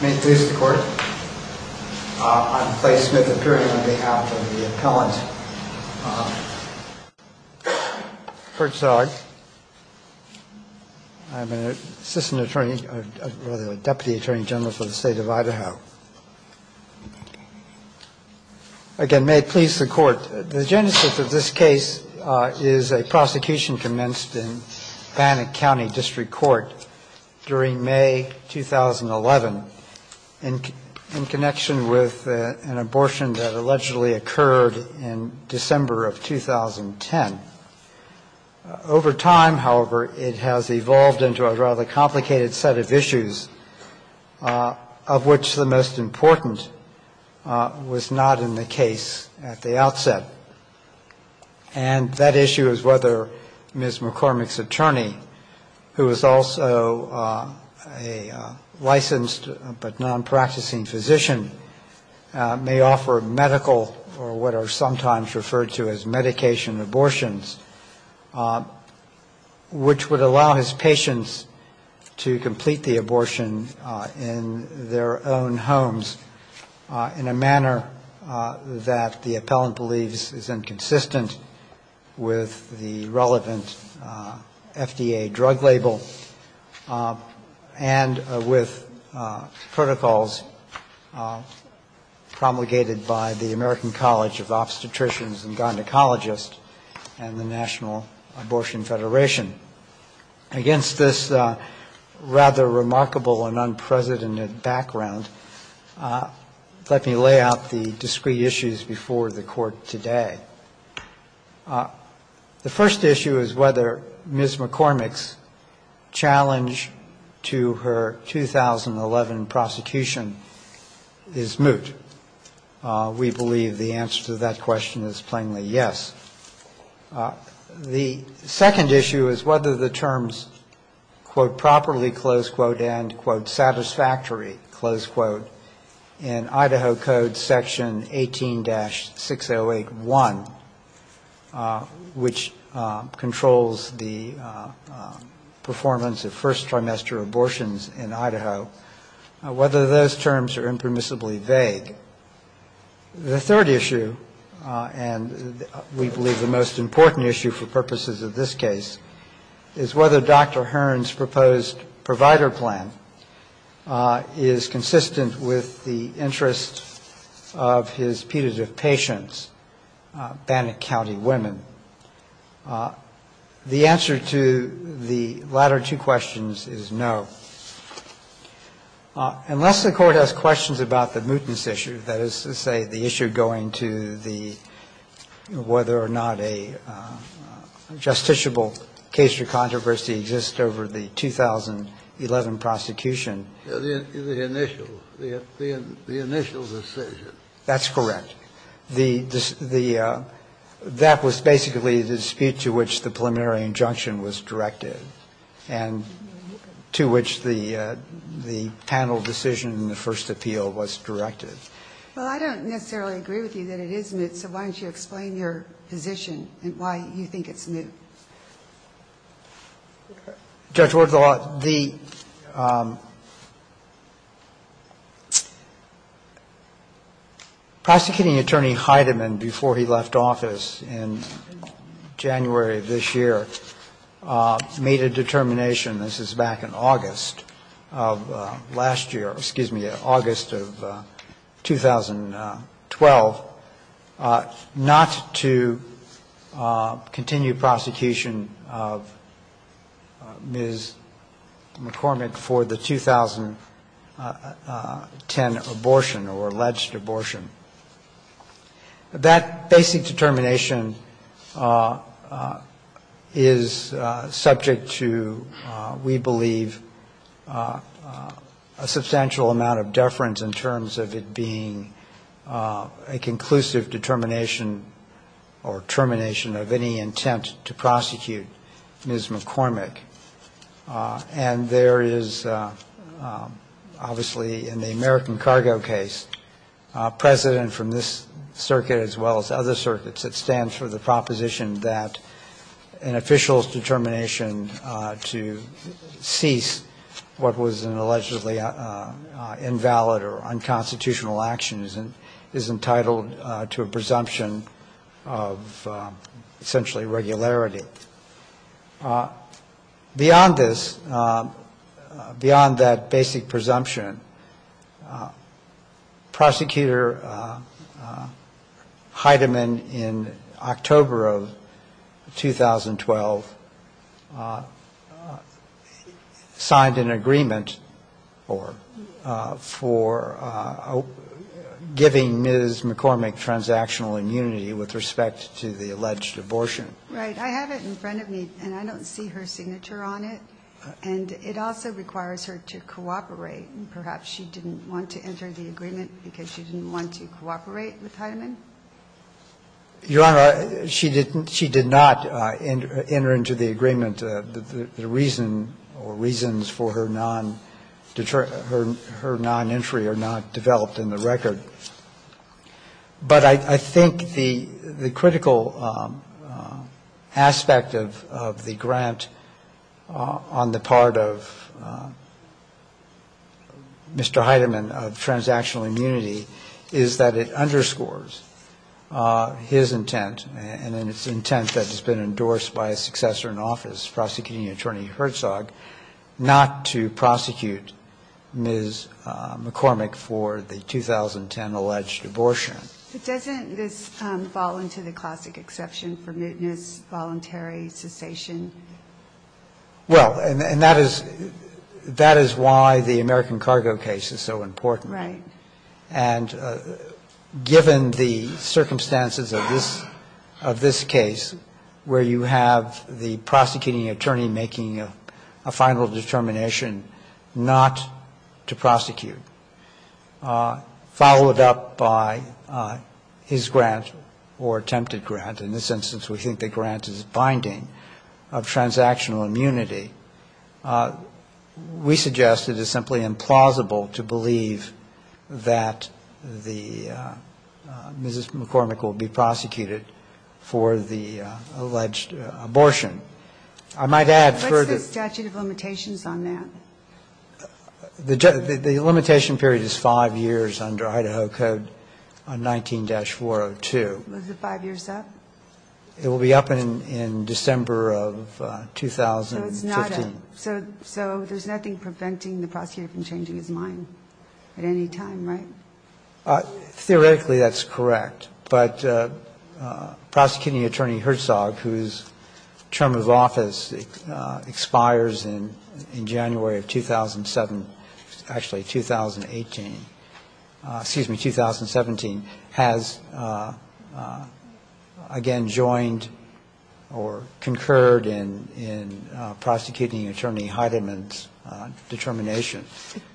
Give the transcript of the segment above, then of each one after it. May it please the court. I'm Clay Smith, appearing on behalf of the appellant Herzog. I'm an assistant attorney, or rather a deputy attorney general for the state of Idaho. Again, may it please the court. The genesis of this case is a prosecution commenced in Bannock County District Court during May 2011 in connection with an abortion that allegedly occurred in December of 2010. Over time, however, it has evolved into a rather complicated set of issues, of which the most important was not in the case at the outset. And that issue is whether Ms. McCormack's attorney, who is also a licensed but non-practicing physician, may offer medical, or what are sometimes referred to as medication abortions, which would allow his patients to complete the abortion in their own homes in a manner that the appellant believes is inconsistent with the relevant FDA drug label and with protocols promulgated by the American College of Obstetricians and Gynecologists and the National Abortion Federation. Against this rather remarkable and unprecedented background, let me lay out the discrete issues before the Court today. The first issue is whether Ms. McCormack's challenge to her 2011 prosecution is moot. We believe the answer to that question is plainly yes. The second issue is whether the terms, quote, properly, close quote, end, quote, satisfactory, close quote, in Idaho Code Section 18-6081, which controls the performance of first trimester abortions in Idaho, whether those terms are impermissibly vague. The third issue, and we believe the most important issue for purposes of this case, is whether Dr. Hearn's proposed provider plan is consistent with the interests of his putative patients, Bannock County women. The answer to the latter two questions is no. Unless the Court has questions about the mootness issue, that is to say the issue going to the whether or not a justiciable case or controversy exists over the 2011 prosecution. The initial decision. That's correct. That was basically the dispute to which the preliminary injunction was directed and to which the panel decision in the first appeal was directed. Well, I don't necessarily agree with you that it is moot, so why don't you explain your position and why you think it's moot. Judge, the prosecuting attorney Heidemann, before he left office in January of this year, made a determination, this is back in August of last year, excuse me, August of 2012, not to continue prosecution of Ms. McCormick for the 2010 abortion or alleged abortion. That basic determination is subject to, we believe, a substantial amount of deference in terms of it being a conclusive determination or termination of any intent to prosecute Ms. McCormick. And there is, obviously, in the American cargo case, precedent from this circuit as well as other circuits, it stands for the proposition that an official's determination to cease what was an allegedly invalid or unconstitutional action is entitled to a presumption of essentially regularity. Beyond this, beyond that basic presumption, Prosecutor Heidemann in October of 2012 signed an agreement for giving Ms. McCormick transactional immunity with respect to the alleged abortion. And in that agreement, Ms. McCormick was granted the right to remain in the United States. That's a significant measure on it, and it also requires her to cooperate, and perhaps she didn't want to enter the agreement because she didn't want to cooperate with Heidemann? Your Honor, she did not enter into the agreement. The reason or reasons for her non-entry are not developed in the record. But I think the critical aspect of the grant on the part of Mr. Heidemann of transactional immunity is that it underscores his intent and its intent that has been endorsed by a successor in office, prosecuting attorney Herzog, not to prosecute Ms. McCormick for the 2010 alleged abortion. But doesn't this fall into the classic exception for mootness, voluntary cessation? Well, and that is why the American cargo case is so important. Right. And given the circumstances of this case where you have the prosecuting attorney making a final determination not to prosecute, followed up by his grant or attempted grant, in this instance we think the grant is binding, of transactional immunity, that the Ms. McCormick will be prosecuted for the alleged abortion. I might add further. What's the statute of limitations on that? The limitation period is five years under Idaho Code on 19-402. Is it five years up? It will be up in December of 2015. So there's nothing preventing the prosecutor from changing his mind at any time, right? Theoretically, that's correct. But prosecuting attorney Herzog, whose term of office expires in January of 2007, actually 2018, excuse me, 2017, has again joined or concurred in prosecuting attorney Heidemann's determination.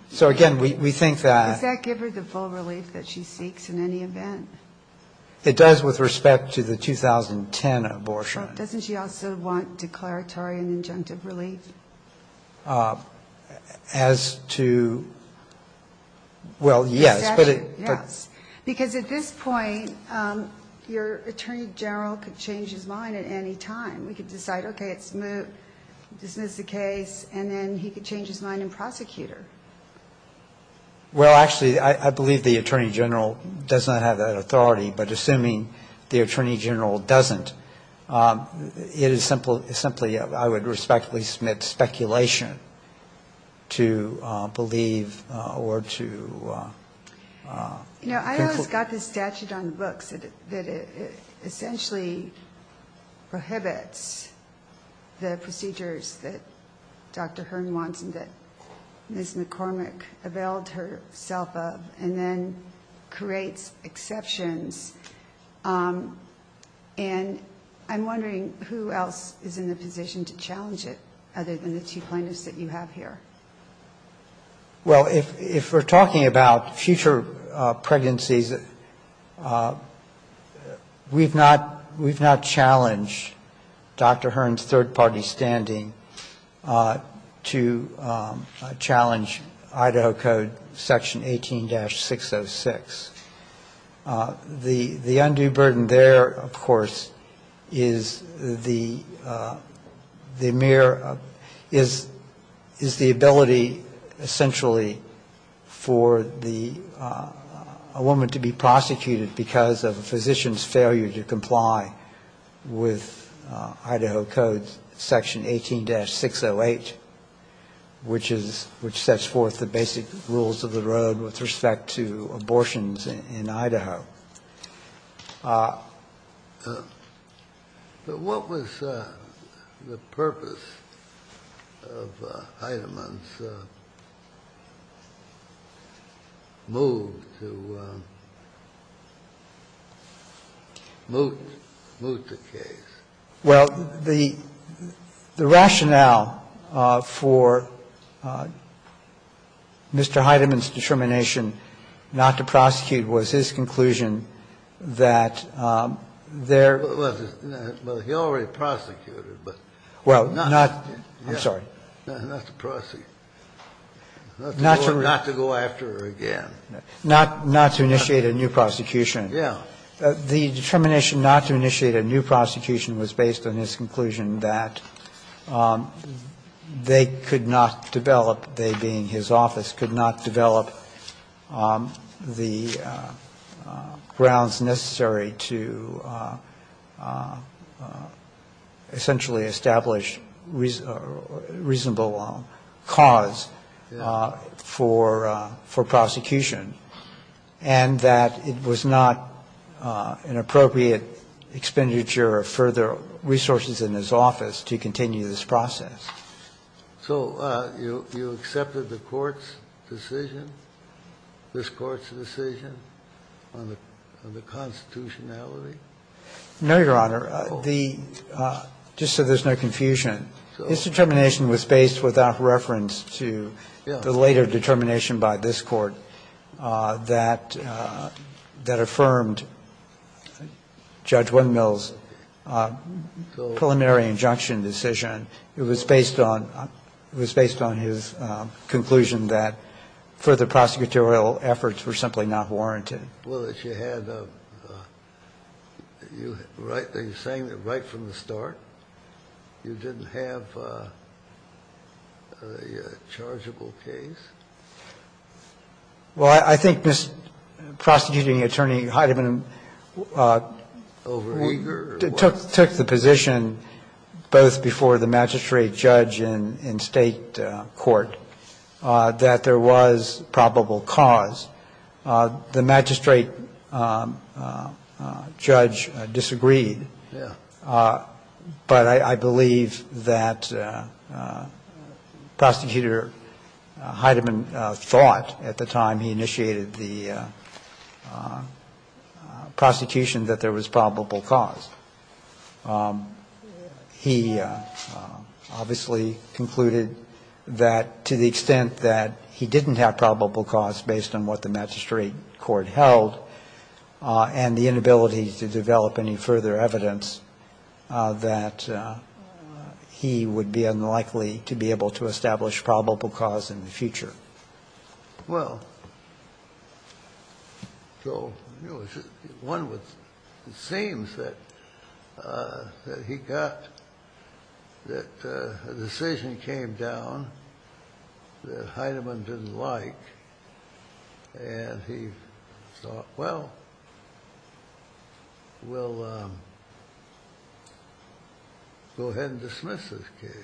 So, again, we think that... Does that give her the full relief that she seeks in any event? It does with respect to the 2010 abortion. Doesn't she also want declaratory and injunctive relief? As to... Well, yes. Because at this point, your attorney general could change his mind at any time. We could decide, okay, it's moot, dismiss the case, and then he could change his mind and prosecute her. Well, actually, I believe the attorney general does not have that authority. But assuming the attorney general doesn't, it is simply, I would respectfully submit, speculation to believe or to... You know, I always got this statute on the books that it essentially prohibits the procedures that Dr. Hearn wants and that Ms. McCormick availed herself of, and then that's the case. And I'm wondering who else is in the position to challenge it other than the two plaintiffs that you have here. Well, if we're talking about future pregnancies, we've not challenged Dr. Hearn's third-party standing to challenge Idaho Code Section 18-606. The undue burden there, of course, is the mere, is the ability, essentially, for the woman to be prosecuted because of a physician's failure to comply with Idaho Code Section 18-608, which is, which sets forth the basic rules of the road with respect to abortions in Idaho. But what was the purpose of Heidemann's move to moot the case? Well, the rationale for Mr. Heidemann's determination not to prosecute was his conclusion that there was this other, well, he already prosecuted, but not. Well, not, I'm sorry. Not to prosecute. Not to go after her again. Not to initiate a new prosecution. Yeah. The determination not to initiate a new prosecution was based on his conclusion that they could not develop, they being his office, could not develop the, the, the grounds necessary to essentially establish reasonable cause for, for prosecution, and that it was not an appropriate expenditure of further resources in his office to continue this process. So you, you accepted the Court's decision, this Court's decision, on the grounds of the constitutionality? No, Your Honor. The, just so there's no confusion, his determination was based without reference to the later determination by this Court that, that affirmed Judge Windmill's preliminary injunction decision. It was based on, it was based on his conclusion that further prosecutorial efforts were simply not warranted. Well, that you had a, you, right, are you saying that right from the start you didn't have a, a chargeable case? Well, I think this prosecuting attorney, Heidemann, took, took the position both before the magistrate judge in, in State court that there was probable cause. The magistrate judge disagreed. Yeah. But I, I believe that Prosecutor Heidemann thought at the time he initiated the prosecution that there was probable cause. He obviously concluded that to the extent that he didn't have probable cause based on what the magistrate court held and the inability to develop any further evidence that he would be unlikely to be able to establish probable cause in the future. Well, so one would, it seems that, that he got, that a decision came down that Heidemann didn't like and he thought, well, we'll go ahead and dismiss this case.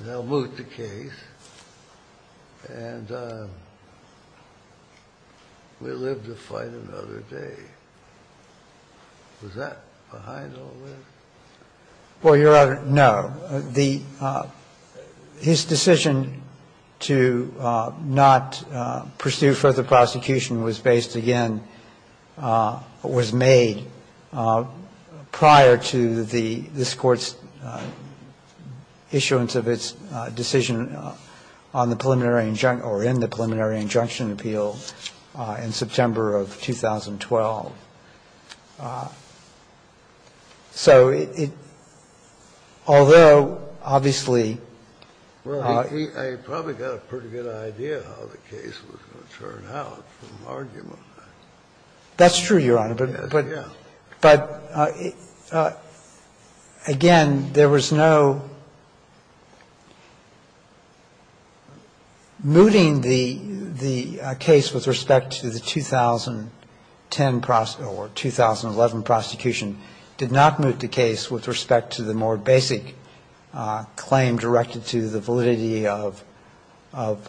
They'll move the case and we'll live to fight another day. Was that behind all this? Well, Your Honor, no. The, his decision to not pursue further prosecution was based again, was made prior to the, this Court's issuance of its decision on the preliminary injunction or in the preliminary injunction appeal in September of 2012. So it, although obviously he, he, he probably got a pretty good idea how the case was going to turn out from argument. That's true, Your Honor, but, but, but again, there was no mooting the, the case with respect to the 2010 or 2011 prosecution. Did not move the case with respect to the more basic claim directed to the validity of, of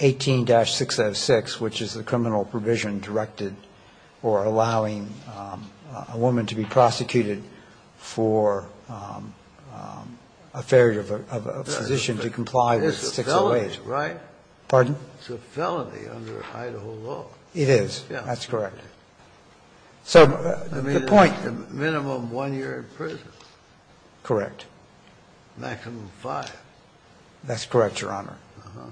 18-606, which is the criminal provision directed or allowing a woman to be prosecuted for a failure of a physician to comply with 608. That's a felony under Idaho law. It is, that's correct. So the point. Minimum one year in prison. Correct. Maximum five. That's correct, Your Honor. Uh-huh.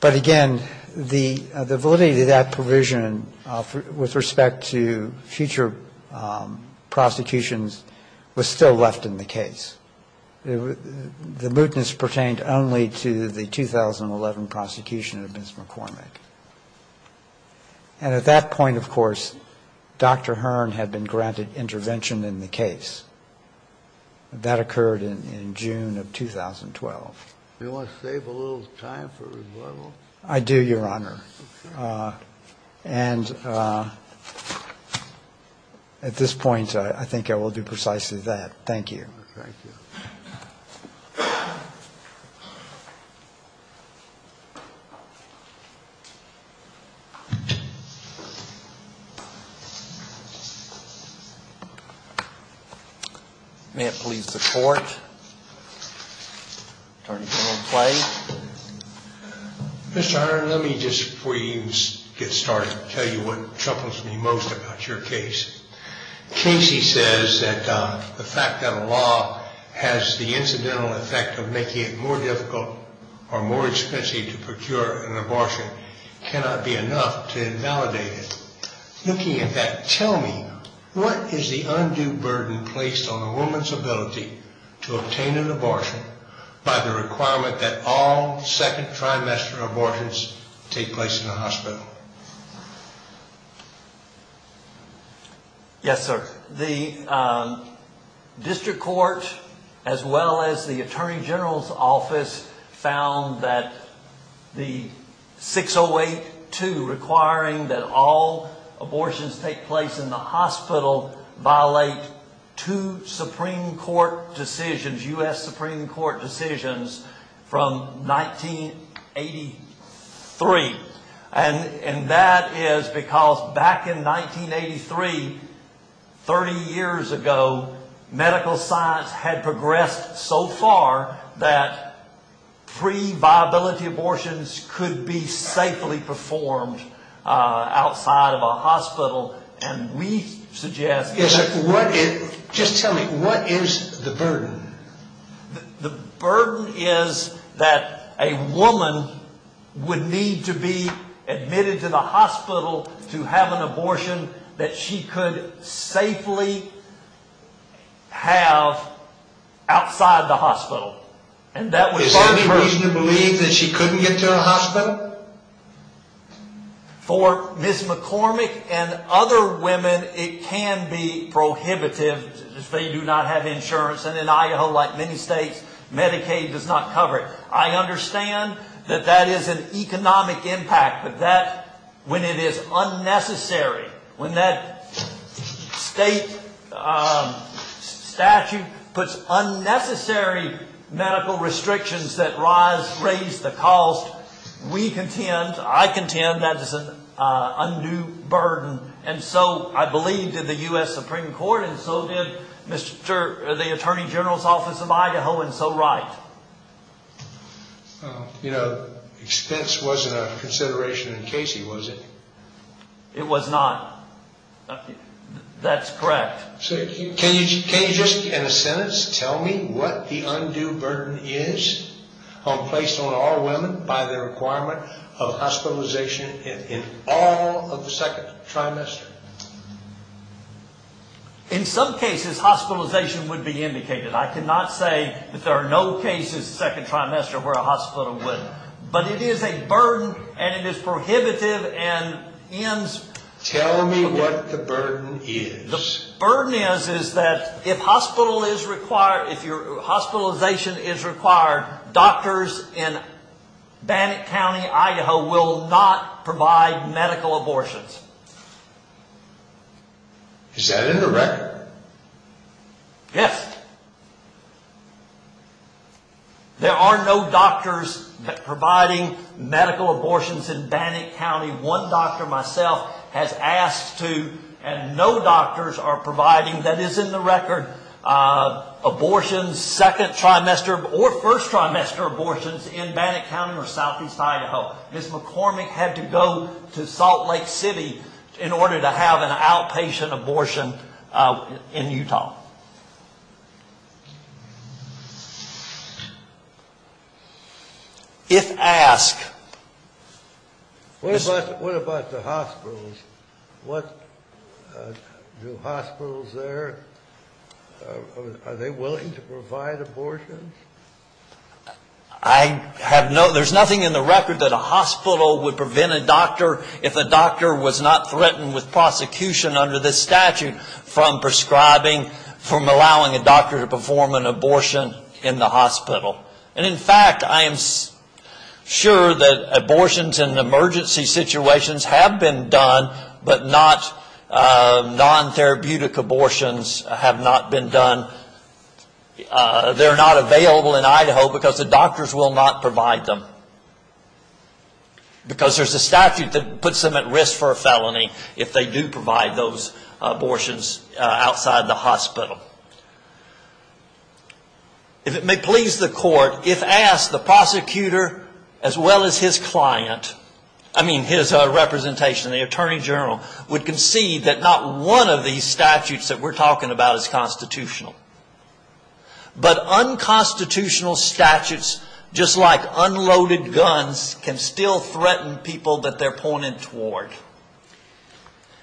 But again, the, the validity of that provision with respect to future prosecutions was still left in the case. The mootness pertained only to the 2011 prosecution of Ms. McCormick. And at that point, of course, Dr. Hearn had been granted intervention in the case. That occurred in, in June of 2012. Do you want to save a little time for rebuttal? I do, Your Honor. Okay. And at this point, I, I think I will do precisely that. Thank you. Thank you. May it please the Court. Attorney General Clay. Mr. Hearn, let me just, before you get started, tell you what troubles me most about your case. Casey says that the fact that a law has the incidental effect of making it more difficult or more expensive to procure an abortion cannot be enough to invalidate it. Looking at that, tell me, what is the undue burden placed on a woman's ability to obtain an abortion by the requirement that all second trimester abortions take place in the hospital? Yes, sir. The District Court, as well as the Attorney General's Office, found that the 608-2 requiring that all abortions take place in the hospital violate two Supreme Court decisions, U.S. Supreme Court decisions from 1983. And that is because back in 1983, 30 years ago, medical science had progressed so far that pre-viability abortions could be safely performed outside of a hospital. And we suggest that... Just tell me, what is the burden? The burden is that a woman would need to be admitted to the hospital to have an abortion that she could safely have outside the hospital. Is there any reason to believe that she couldn't get to a hospital? For Ms. McCormick and other women, it can be prohibitive if they do not have insurance. And in Idaho, like many states, Medicaid does not cover it. I understand that that is an economic impact, but when it is unnecessary, when that state statute puts unnecessary medical restrictions that raise the cost, we contend, I contend, that is an undue burden. And so, I believe, did the U.S. Supreme Court, and so did the Attorney General's Office of Idaho, and so right. You know, expense wasn't a consideration in Casey, was it? It was not. That's correct. Can you just, in a sentence, tell me what the undue burden is placed on all women by the requirement of hospitalization in all of the second trimester? In some cases, hospitalization would be indicated. I cannot say that there are no cases in the second trimester where a hospital wouldn't. But it is a burden, and it is prohibitive, and ends... Tell me what the burden is. The burden is that if hospitalization is required, doctors in Bannock County, Idaho, will not provide medical abortions. Is that in the record? Yes. There are no doctors providing medical abortions in Bannock County. One doctor, myself, has asked to, and no doctors are providing, that is in the record, abortions, second trimester or first trimester abortions in Bannock County or southeast Idaho. Ms. McCormick had to go to Salt Lake City in order to have an outpatient abortion in Utah. If asked... What about the hospitals? Do hospitals there, are they willing to provide abortions? I have no... There's nothing in the record that a hospital would prevent a doctor, if a doctor was not threatened with prosecution under this statute, from prescribing, from allowing a doctor to perform an abortion in the hospital. And in fact, I am sure that abortions in emergency situations have been done, but not non-therapeutic abortions have not been done. They're not available in Idaho because the doctors will not provide them. Because there's a statute that puts them at risk for a felony, if they do provide those abortions outside the hospital. If it may please the court, if asked, the prosecutor, as well as his client, I mean his representation in the Attorney General, would concede that not one of these statutes that we're talking about is constitutional. But unconstitutional statutes, just like unloaded guns, can still threaten people that they're pointed toward.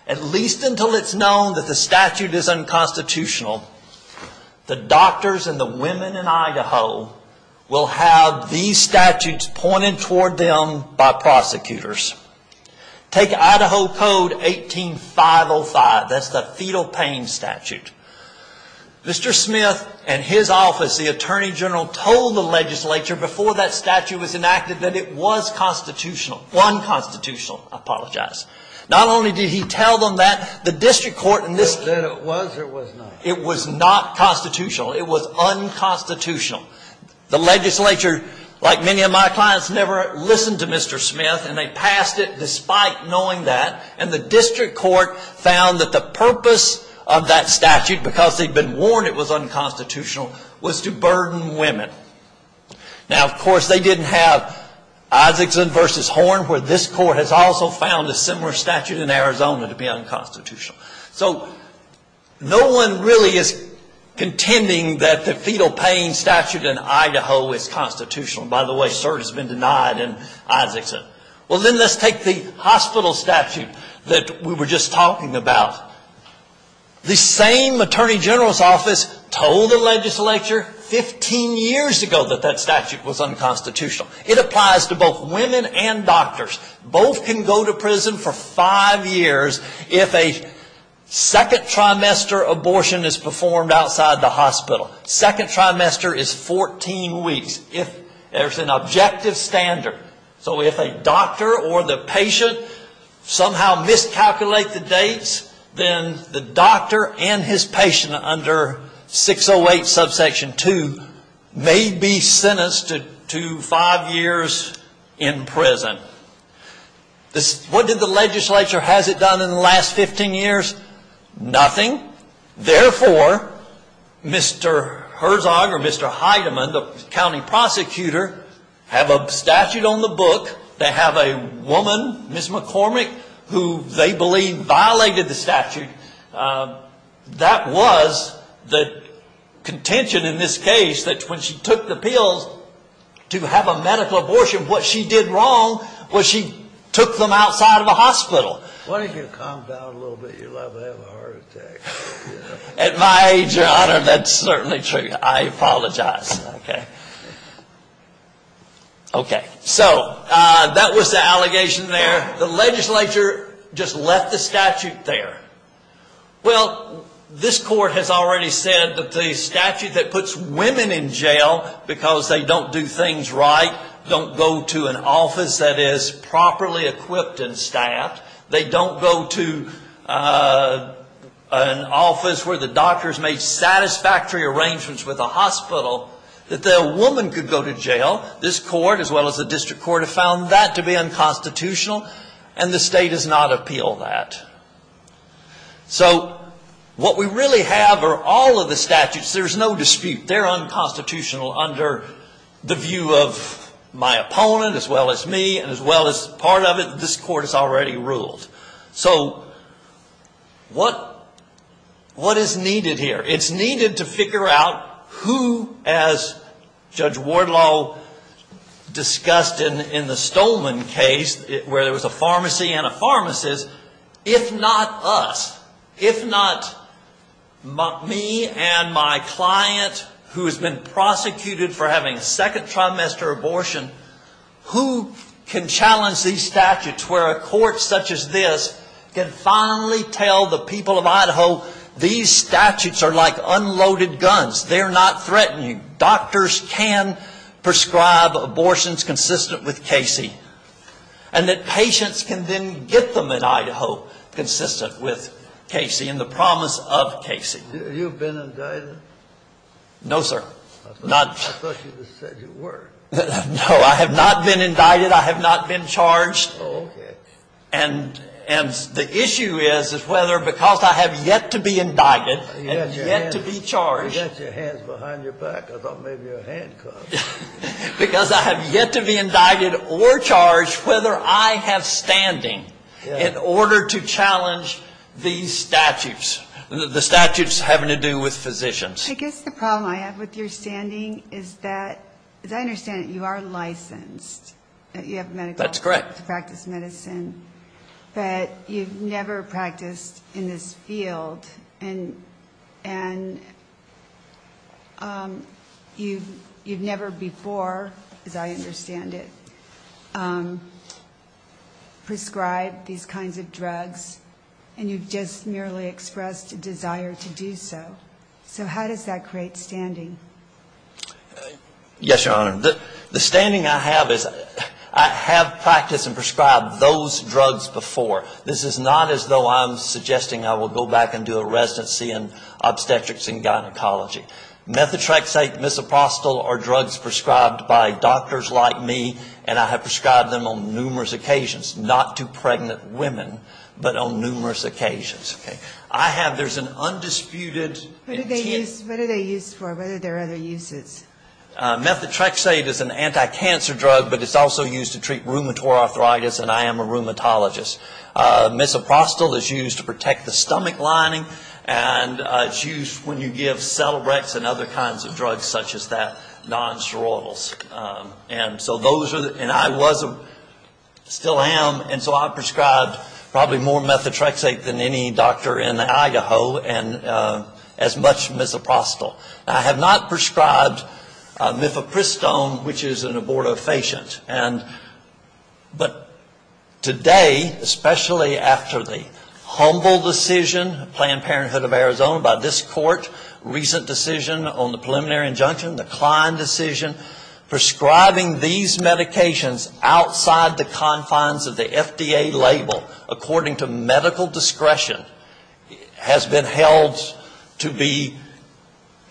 At least until it's known that the statute is unconstitutional, the doctors and the women in Idaho will have these statutes pointed toward them by prosecutors. Take Idaho Code 18-505, that's the fetal pain statute. Mr. Smith and his office, the Attorney General, told the legislature before that statute was enacted that it was constitutional. Unconstitutional, I apologize. Not only did he tell them that, the district court in this case... That it was or it was not? It was not constitutional. It was unconstitutional. The legislature, like many of my clients, never listened to Mr. Smith, and they passed it despite knowing that. And the district court found that the purpose of that statute, because they'd been warned it was unconstitutional, was to burden women. Now, of course, they didn't have Isaacson v. Horn, where this court has also found a similar statute in Arizona to be unconstitutional. So, no one really is contending that the fetal pain statute in Idaho is constitutional. By the way, cert has been denied in Isaacson. Well, then let's take the hospital statute that we were just talking about. The same Attorney General's office told the legislature 15 years ago that that statute was unconstitutional. It applies to both women and doctors. Both can go to prison for five years if a second trimester abortion is performed outside the hospital. Second trimester is 14 weeks, if there's an objective standard. So, if a doctor or the patient somehow miscalculate the dates, then the doctor and his patient under 608 subsection 2 may be sentenced to five years in prison. What did the legislature, has it done in the last 15 years? Nothing. Therefore, Mr. Herzog or Mr. Heidemann, the county prosecutor, have a statute on the book. They have a woman, Ms. McCormick, who they believe violated the statute. That was the contention in this case that when she took the pills to have a medical abortion, what she did wrong was she took them outside of a hospital. Why don't you calm down a little bit, you'll have a heart attack. At my age, Your Honor, that's certainly true. I apologize. Okay. Okay. So, that was the allegation there. The legislature just left the statute there. Well, this court has already said that the statute that puts women in jail because they don't do things right, don't go to an office that is properly equipped and staffed, they don't go to an office where the doctors made satisfactory arrangements with a hospital, that a woman could go to jail. This court, as well as the district court, have found that to be unconstitutional, and the state does not appeal that. So, what we really have are all of the statutes. There's no dispute. They're unconstitutional under the view of my opponent, as well as me, and as well as part of it, this court has already ruled. So, what is needed here? It's needed to figure out who, as Judge Wardlow discussed in the Stolman case, where there was a pharmacy and a pharmacist, if not us, if not me and my client who has been prosecuted for having second trimester abortion, who can challenge these statutes where a court such as this can finally tell the people of Idaho, these statutes are like unloaded guns. They're not threatening. Doctors can prescribe abortions consistent with Casey, and that patients can then get them in Idaho consistent with Casey and the promise of Casey. Have you been indicted? No, sir. I thought you just said you were. No, I have not been indicted. I have not been charged. Oh, okay. And the issue is, is whether because I have yet to be indicted and yet to be charged. You got your hands behind your back. I thought maybe your hand caught it. Because I have yet to be indicted or charged whether I have standing in order to challenge these statutes, the statutes having to do with physicians. I guess the problem I have with your standing is that, as I understand it, you are licensed. You have medical to practice medicine. That's correct. But you've never practiced in this field. And you've never before, as I understand it, prescribed these kinds of drugs. And you've just merely expressed a desire to do so. So how does that create standing? Yes, Your Honor. The standing I have is I have practiced and prescribed those drugs before. This is not as though I'm suggesting I will go back and do a residency in obstetrics and gynecology. Methotrexate, misoprostol are drugs prescribed by doctors like me, and I have prescribed them on numerous occasions, not to pregnant women, but on numerous occasions. I have, there's an undisputed intent. What are they used for? What are their other uses? Methotrexate is an anti-cancer drug, but it's also used to treat rheumatoid arthritis, and I am a rheumatologist. Misoprostol is used to protect the stomach lining, and it's used when you give Celebrex and other kinds of drugs such as that, non-steroidals. And so those are, and I was, still am, and so I've prescribed probably more methotrexate than any doctor in Idaho, and as much misoprostol. I have not prescribed mifepristone, which is an abortifacient. And, but today, especially after the humble decision, Planned Parenthood of Arizona, by this court, recent decision on the preliminary injunction, the Klein decision, prescribing these medications outside the confines of the FDA label, according to medical discretion, has been held to be,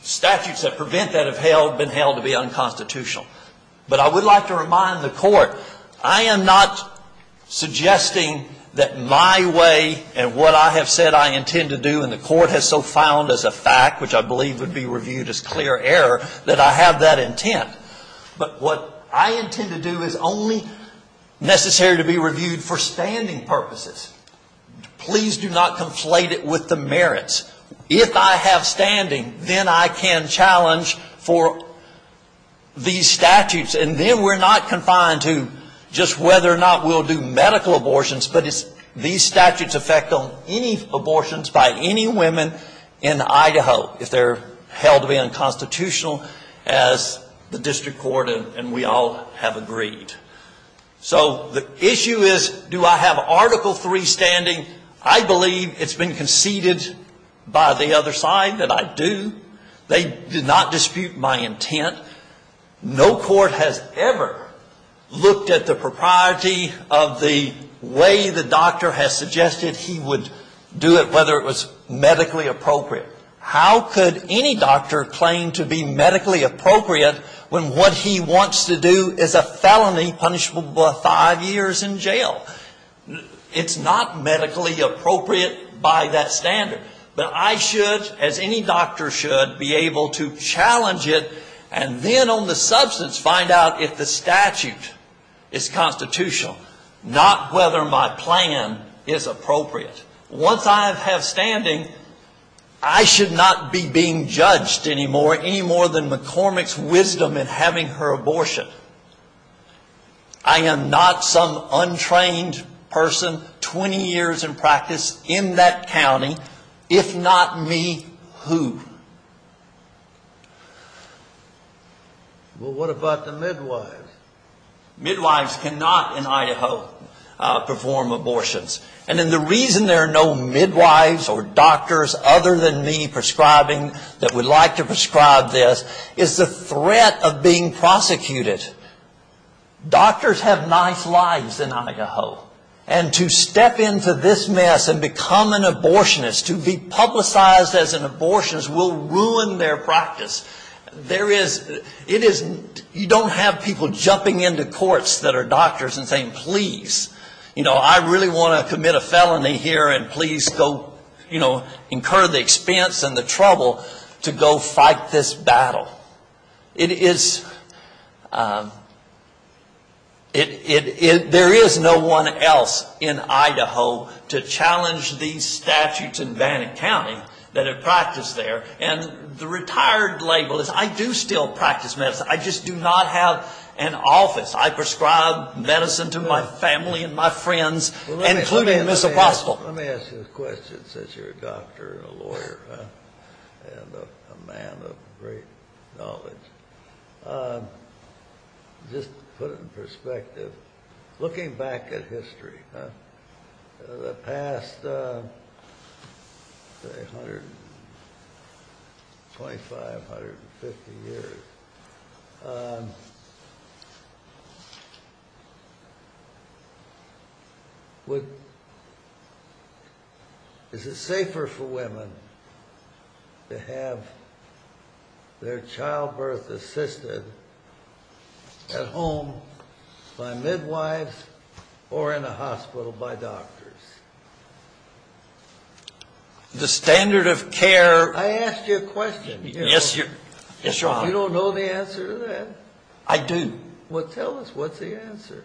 statutes that prevent that have been held to be unconstitutional. But I would like to remind the court, I am not suggesting that my way and what I have said I intend to do, and the court has so found as a fact, which I believe would be reviewed as clear error, that I have that intent. But what I intend to do is only necessary to be reviewed for standing purposes. Please do not conflate it with the merits. If I have standing, then I can challenge for these statutes. And then we're not confined to just whether or not we'll do medical abortions, but it's these statutes affect on any abortions by any women in Idaho, if they're held to be unconstitutional, as the district court and we all have agreed. So the issue is, do I have Article III standing? I believe it's been conceded by the other side that I do. They do not dispute my intent. No court has ever looked at the propriety of the way the doctor has suggested he would do it, whether it was medically appropriate. How could any doctor claim to be medically appropriate when what he wants to do is a felony punishable by five years in jail? It's not medically appropriate by that standard. But I should, as any doctor should, be able to challenge it, and then on the substance find out if the statute is constitutional, not whether my plan is appropriate. Once I have standing, I should not be being judged any more than McCormick's wisdom in having her abortion. I am not some untrained person, 20 years in practice in that county. If not me, who? Well, what about the midwives? Midwives cannot in Idaho perform abortions. And then the reason there are no midwives or doctors other than me prescribing, that would like to prescribe this, is the threat of being prosecuted. Doctors have nice lives in Idaho. And to step into this mess and become an abortionist, to be publicized as an abortionist, will ruin their practice. There is, it is, you don't have people jumping into courts that are doctors and saying, please, you know, I really want to commit a felony here, and please go, you know, incur the expense and the trouble to go fight this battle. It is, there is no one else in Idaho to challenge these statutes in Vannet County that are practiced there. And the retired label is, I do still practice medicine. I just do not have an office. I prescribe medicine to my family and my friends, including Ms. Apostle. Let me ask you a question since you're a doctor and a lawyer and a man of great knowledge. Just to put it in perspective, looking back at history, the past, say, 125, 150 years, would, is it safer for women to have their childbirth assisted at home by midwives or in a hospital by doctors? The standard of care. I asked you a question. Yes, your Honor. You don't know the answer to that? I do. Well, tell us, what's the answer?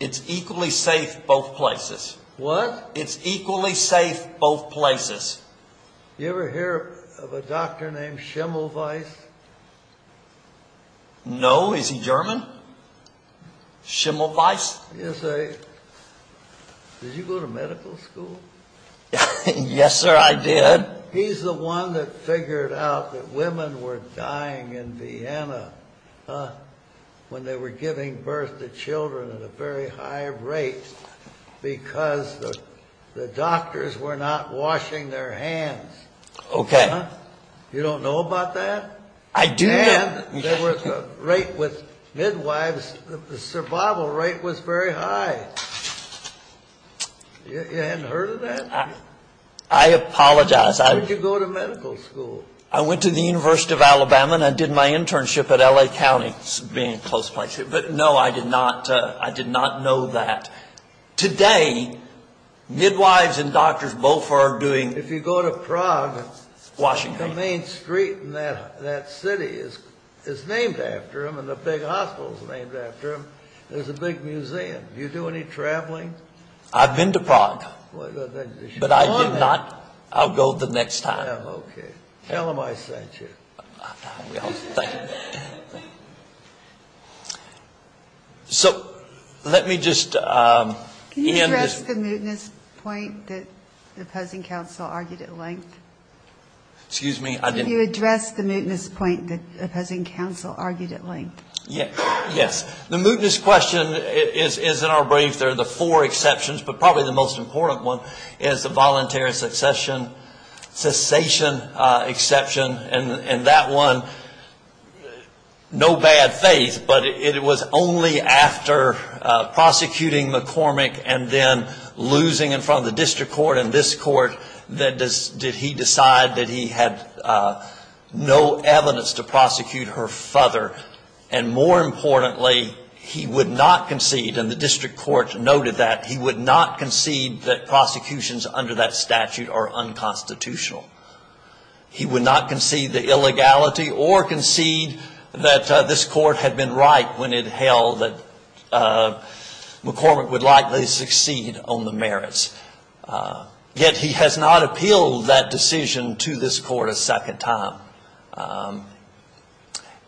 It's equally safe both places. What? It's equally safe both places. You ever hear of a doctor named Schimmelweiss? No, is he German? Schimmelweiss? Yes, I, did you go to medical school? Yes, sir, I did. He's the one that figured out that women were dying in Vienna when they were giving birth to children at a very high rate because the doctors were not washing their hands. Okay. You don't know about that? I do know. And there was a rate with midwives, the survival rate was very high. You hadn't heard of that? I apologize. Where did you go to medical school? I went to the University of Alabama and I did my internship at L.A. County being close by. But, no, I did not know that. Today, midwives and doctors both are doing... If you go to Prague... Washington. The main street in that city is named after him and the big hospital is named after him. Do you do any traveling? I've been to Prague. But I did not... I'll go the next time. Okay. Tell him I sent you. Thank you. So, let me just... Can you address the mootness point that the opposing counsel argued at length? Excuse me? Can you address the mootness point that the opposing counsel argued at length? Yes. The mootness question is in our brief. There are the four exceptions. But probably the most important one is the voluntary cessation exception. And that one, no bad faith, but it was only after prosecuting McCormick and then losing in front of the district court and this court that he decided that he had no evidence to prosecute her father. And more importantly, he would not concede, and the district court noted that, he would not concede that prosecutions under that statute are unconstitutional. He would not concede the illegality or concede that this court had been right when it held that McCormick would likely succeed on the merits. Yet he has not appealed that decision to this court a second time.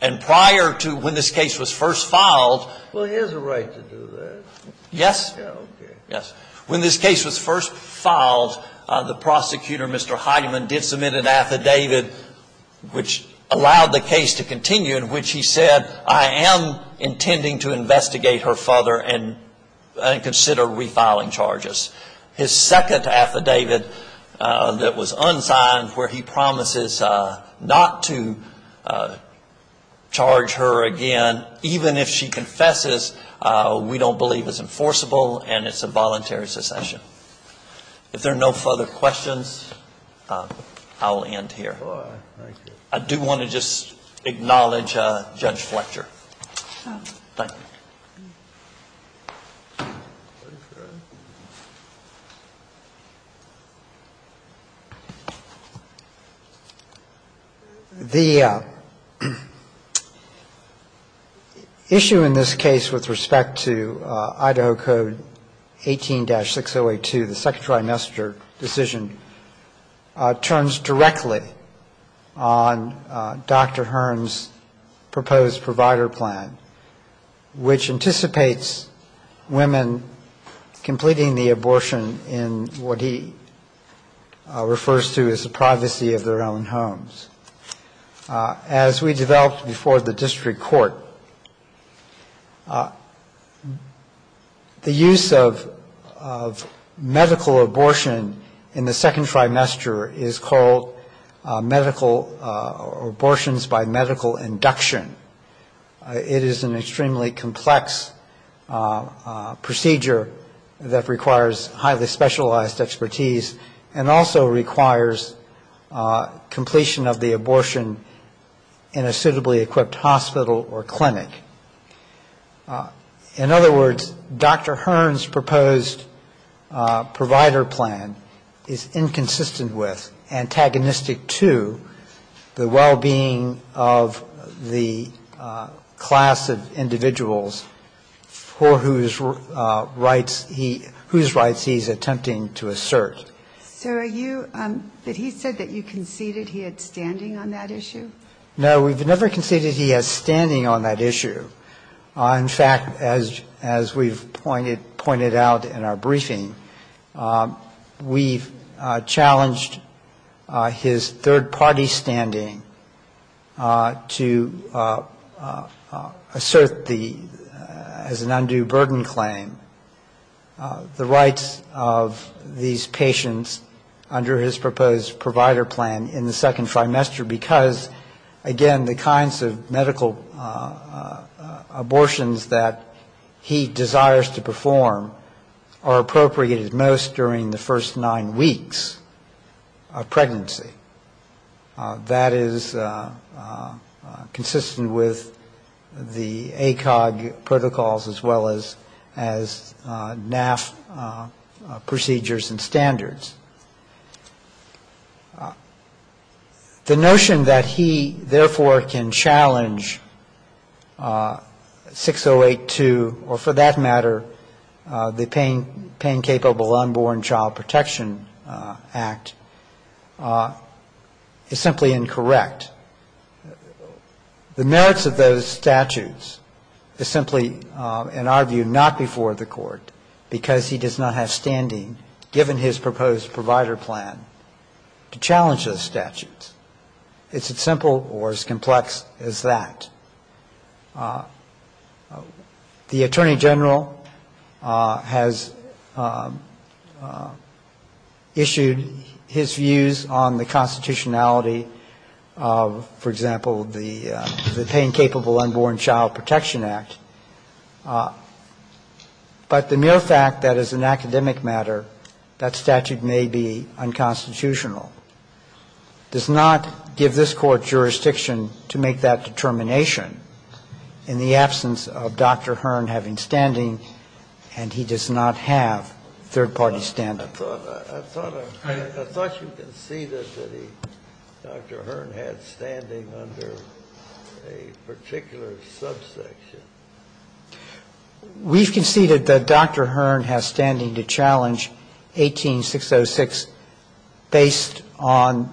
And prior to when this case was first filed... Well, he has a right to do that. Yes. Okay. Yes. When this case was first filed, the prosecutor, Mr. Heidemann, did submit an affidavit which allowed the case to continue in which he said, I am intending to investigate her father and consider refiling charges. His second affidavit that was unsigned where he promises not to charge her again, even if she confesses, we don't believe is enforceable and it's a voluntary secession. If there are no further questions, I'll end here. All right. Thank you. I do want to just acknowledge Judge Fletcher. Thank you. The issue in this case with respect to Idaho Code 18-6082, the Second Trimester decision, turns directly on Dr. Hearn's proposed provider plan, which anticipates women completing the abortion in what he refers to as the privacy of their own homes. As we developed before the district court, the use of medical abortion in Idaho in the Second Trimester is called medical abortions by medical induction. It is an extremely complex procedure that requires highly specialized expertise and also requires completion of the abortion in a suitably equipped hospital or clinic. In other words, Dr. Hearn's proposed provider plan is inconsistent with, antagonistic to, the well-being of the class of individuals for whose rights he's attempting to assert. So are you ‑‑ but he said that you conceded he had standing on that issue? No, we've never conceded he has standing on that issue. In fact, as we've pointed out in our briefing, we've challenged his third-party standing to assert the, as an undue burden claim, the rights of these patients under his proposed provider plan in the Second Trimester, because, again, the kinds of medical abortions that he desires to perform are appropriated most during the first nine weeks of pregnancy. That is consistent with the ACOG protocols as well as NAF procedures and standards. The notion that he, therefore, can challenge 6082 or, for that matter, the Pain Capable Unborn Child Protection Act is simply incorrect. The merits of those statutes is simply, in our view, not before the court, because he does not have standing, given his proposed provider plan, to challenge those statutes. It's as simple or as complex as that. The Attorney General has issued his views on the constitutionality of, for example, the Pain Capable Unborn Child Protection Act. But the mere fact that, as an academic matter, that statute may be unconstitutional does not give this Court jurisdiction to make that determination in the absence of Dr. Hearn having standing, and he does not have third-party standing. I thought you conceded that Dr. Hearn had standing under a particular subsection. We've conceded that Dr. Hearn has standing to challenge 18606 based on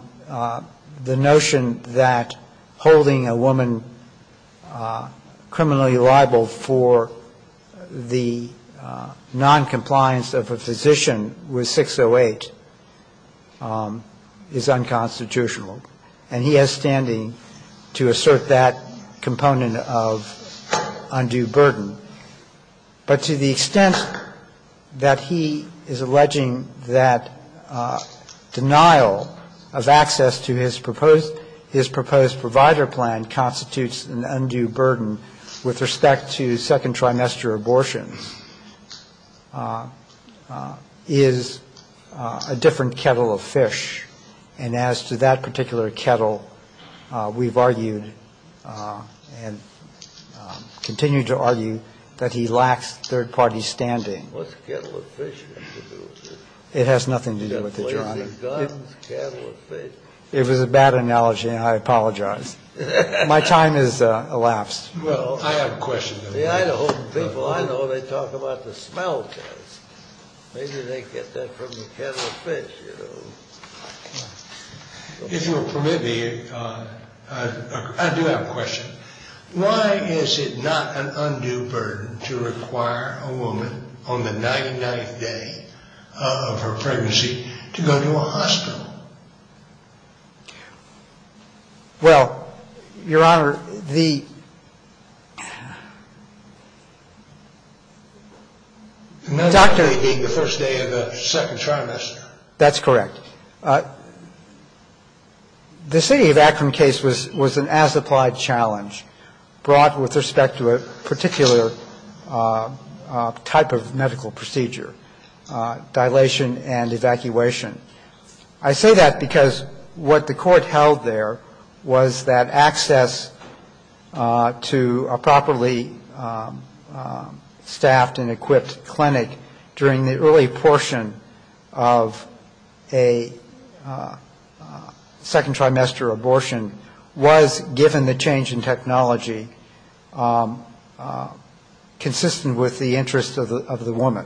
the notion that holding a woman criminally liable for the noncompliance of a physician with 608 is unconstitutional, and he has standing to assert that component of undue burden. But to the extent that he is alleging that denial of access to his proposed provider plan constitutes an undue burden with respect to second-trimester abortion, is a different kettle of fish. And as to that particular kettle, we've argued, and continue to argue, that it should be an undue burden. We've argued that he lacks third-party standing. It was a bad analogy, and I apologize. My time has elapsed. Well, I have a question. Why is it not an undue burden to require a woman on the 99th day of her pregnancy to go to a hospital? Well, Your Honor, the Dr. Another day being the first day of the second trimester. That's correct. The city of Akron case was an as-applied challenge brought with respect to a particular type of medical procedure, dilation and evacuation. I say that because what the court held there was that access to a properly staffed and equipped clinic during the early portion of a second-trimester abortion was, given the change in technology, consistent with the interests of the woman.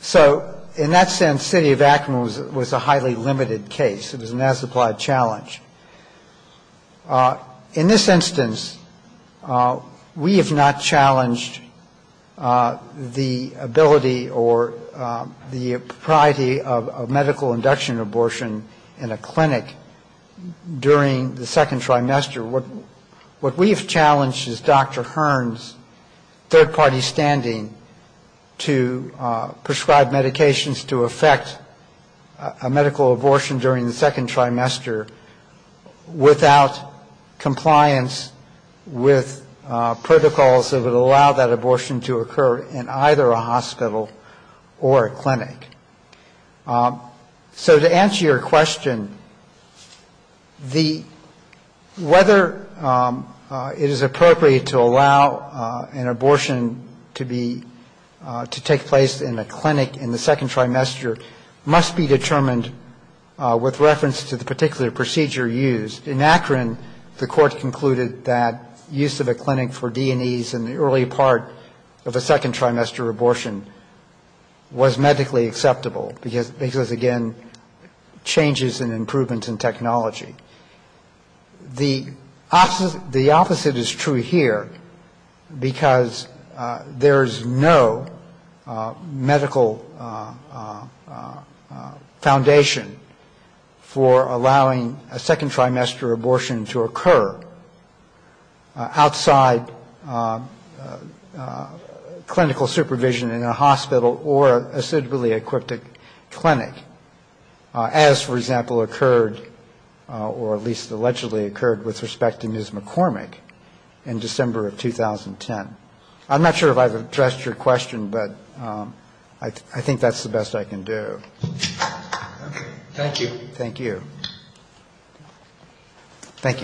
So in that sense, city of Akron was a highly limited case. It was an as-applied challenge. In this instance, we have not challenged the ability or the propriety of medical induction abortion in a clinic during the second trimester. What we have challenged is Dr. Hearn's third-party standing to prescribe medications to affect a medical abortion during the second trimester without compliance with protocols that would allow that abortion to occur in either a hospital or a clinic. So to answer your question, whether it is appropriate to allow an abortion to be to take place in a clinic in the second trimester must be determined with reference to the particular procedure used. In Akron, the court concluded that use of a clinic for D&Es in the early part of the second trimester abortion was medically acceptable because, again, changes and improvements in technology. The opposite is true here because there is no medical foundation for allowing a second-trimester abortion to occur outside of a clinic. So the question is whether it is appropriate to allow clinical supervision in a hospital or acidually-equipped clinic, as, for example, occurred or at least allegedly occurred with respect to Ms. McCormick in December of 2010. I'm not sure if I've addressed your question, but I think that's the best I can do. Thank you. Thank you.